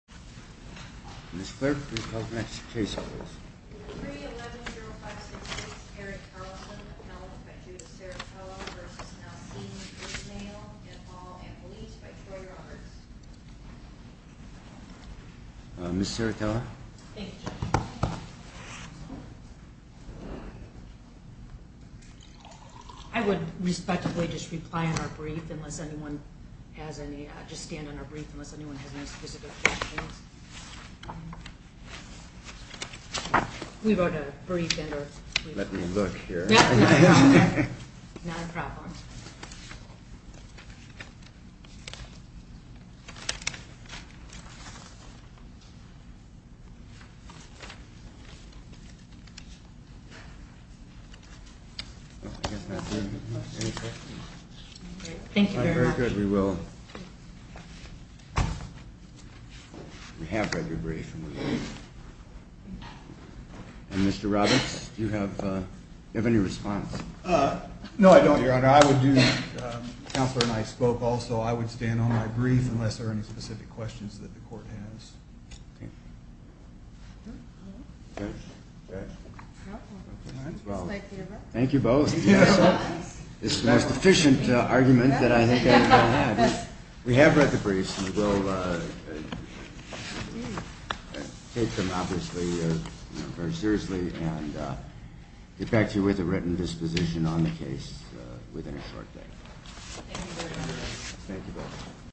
and Paul and Belize by Troy Roberts. Ms. Serritella? Thank you Judge. I would respectfully just reply in our brief unless anyone has any specific questions. We wrote a brief. Let me look here. Not a problem. Thank you very much. Very good. We will. We have read your brief. Mr. Roberts, do you have any response? No, I don't, Your Honor. I would do that. Counselor and I spoke also. I would stand on my brief unless there are any specific questions that the court has. Thank you both. It's the most efficient argument that I think I've ever had. We have read the briefs. We will take them obviously very seriously and get back to you with a written disposition on the case within a short time. Thank you both.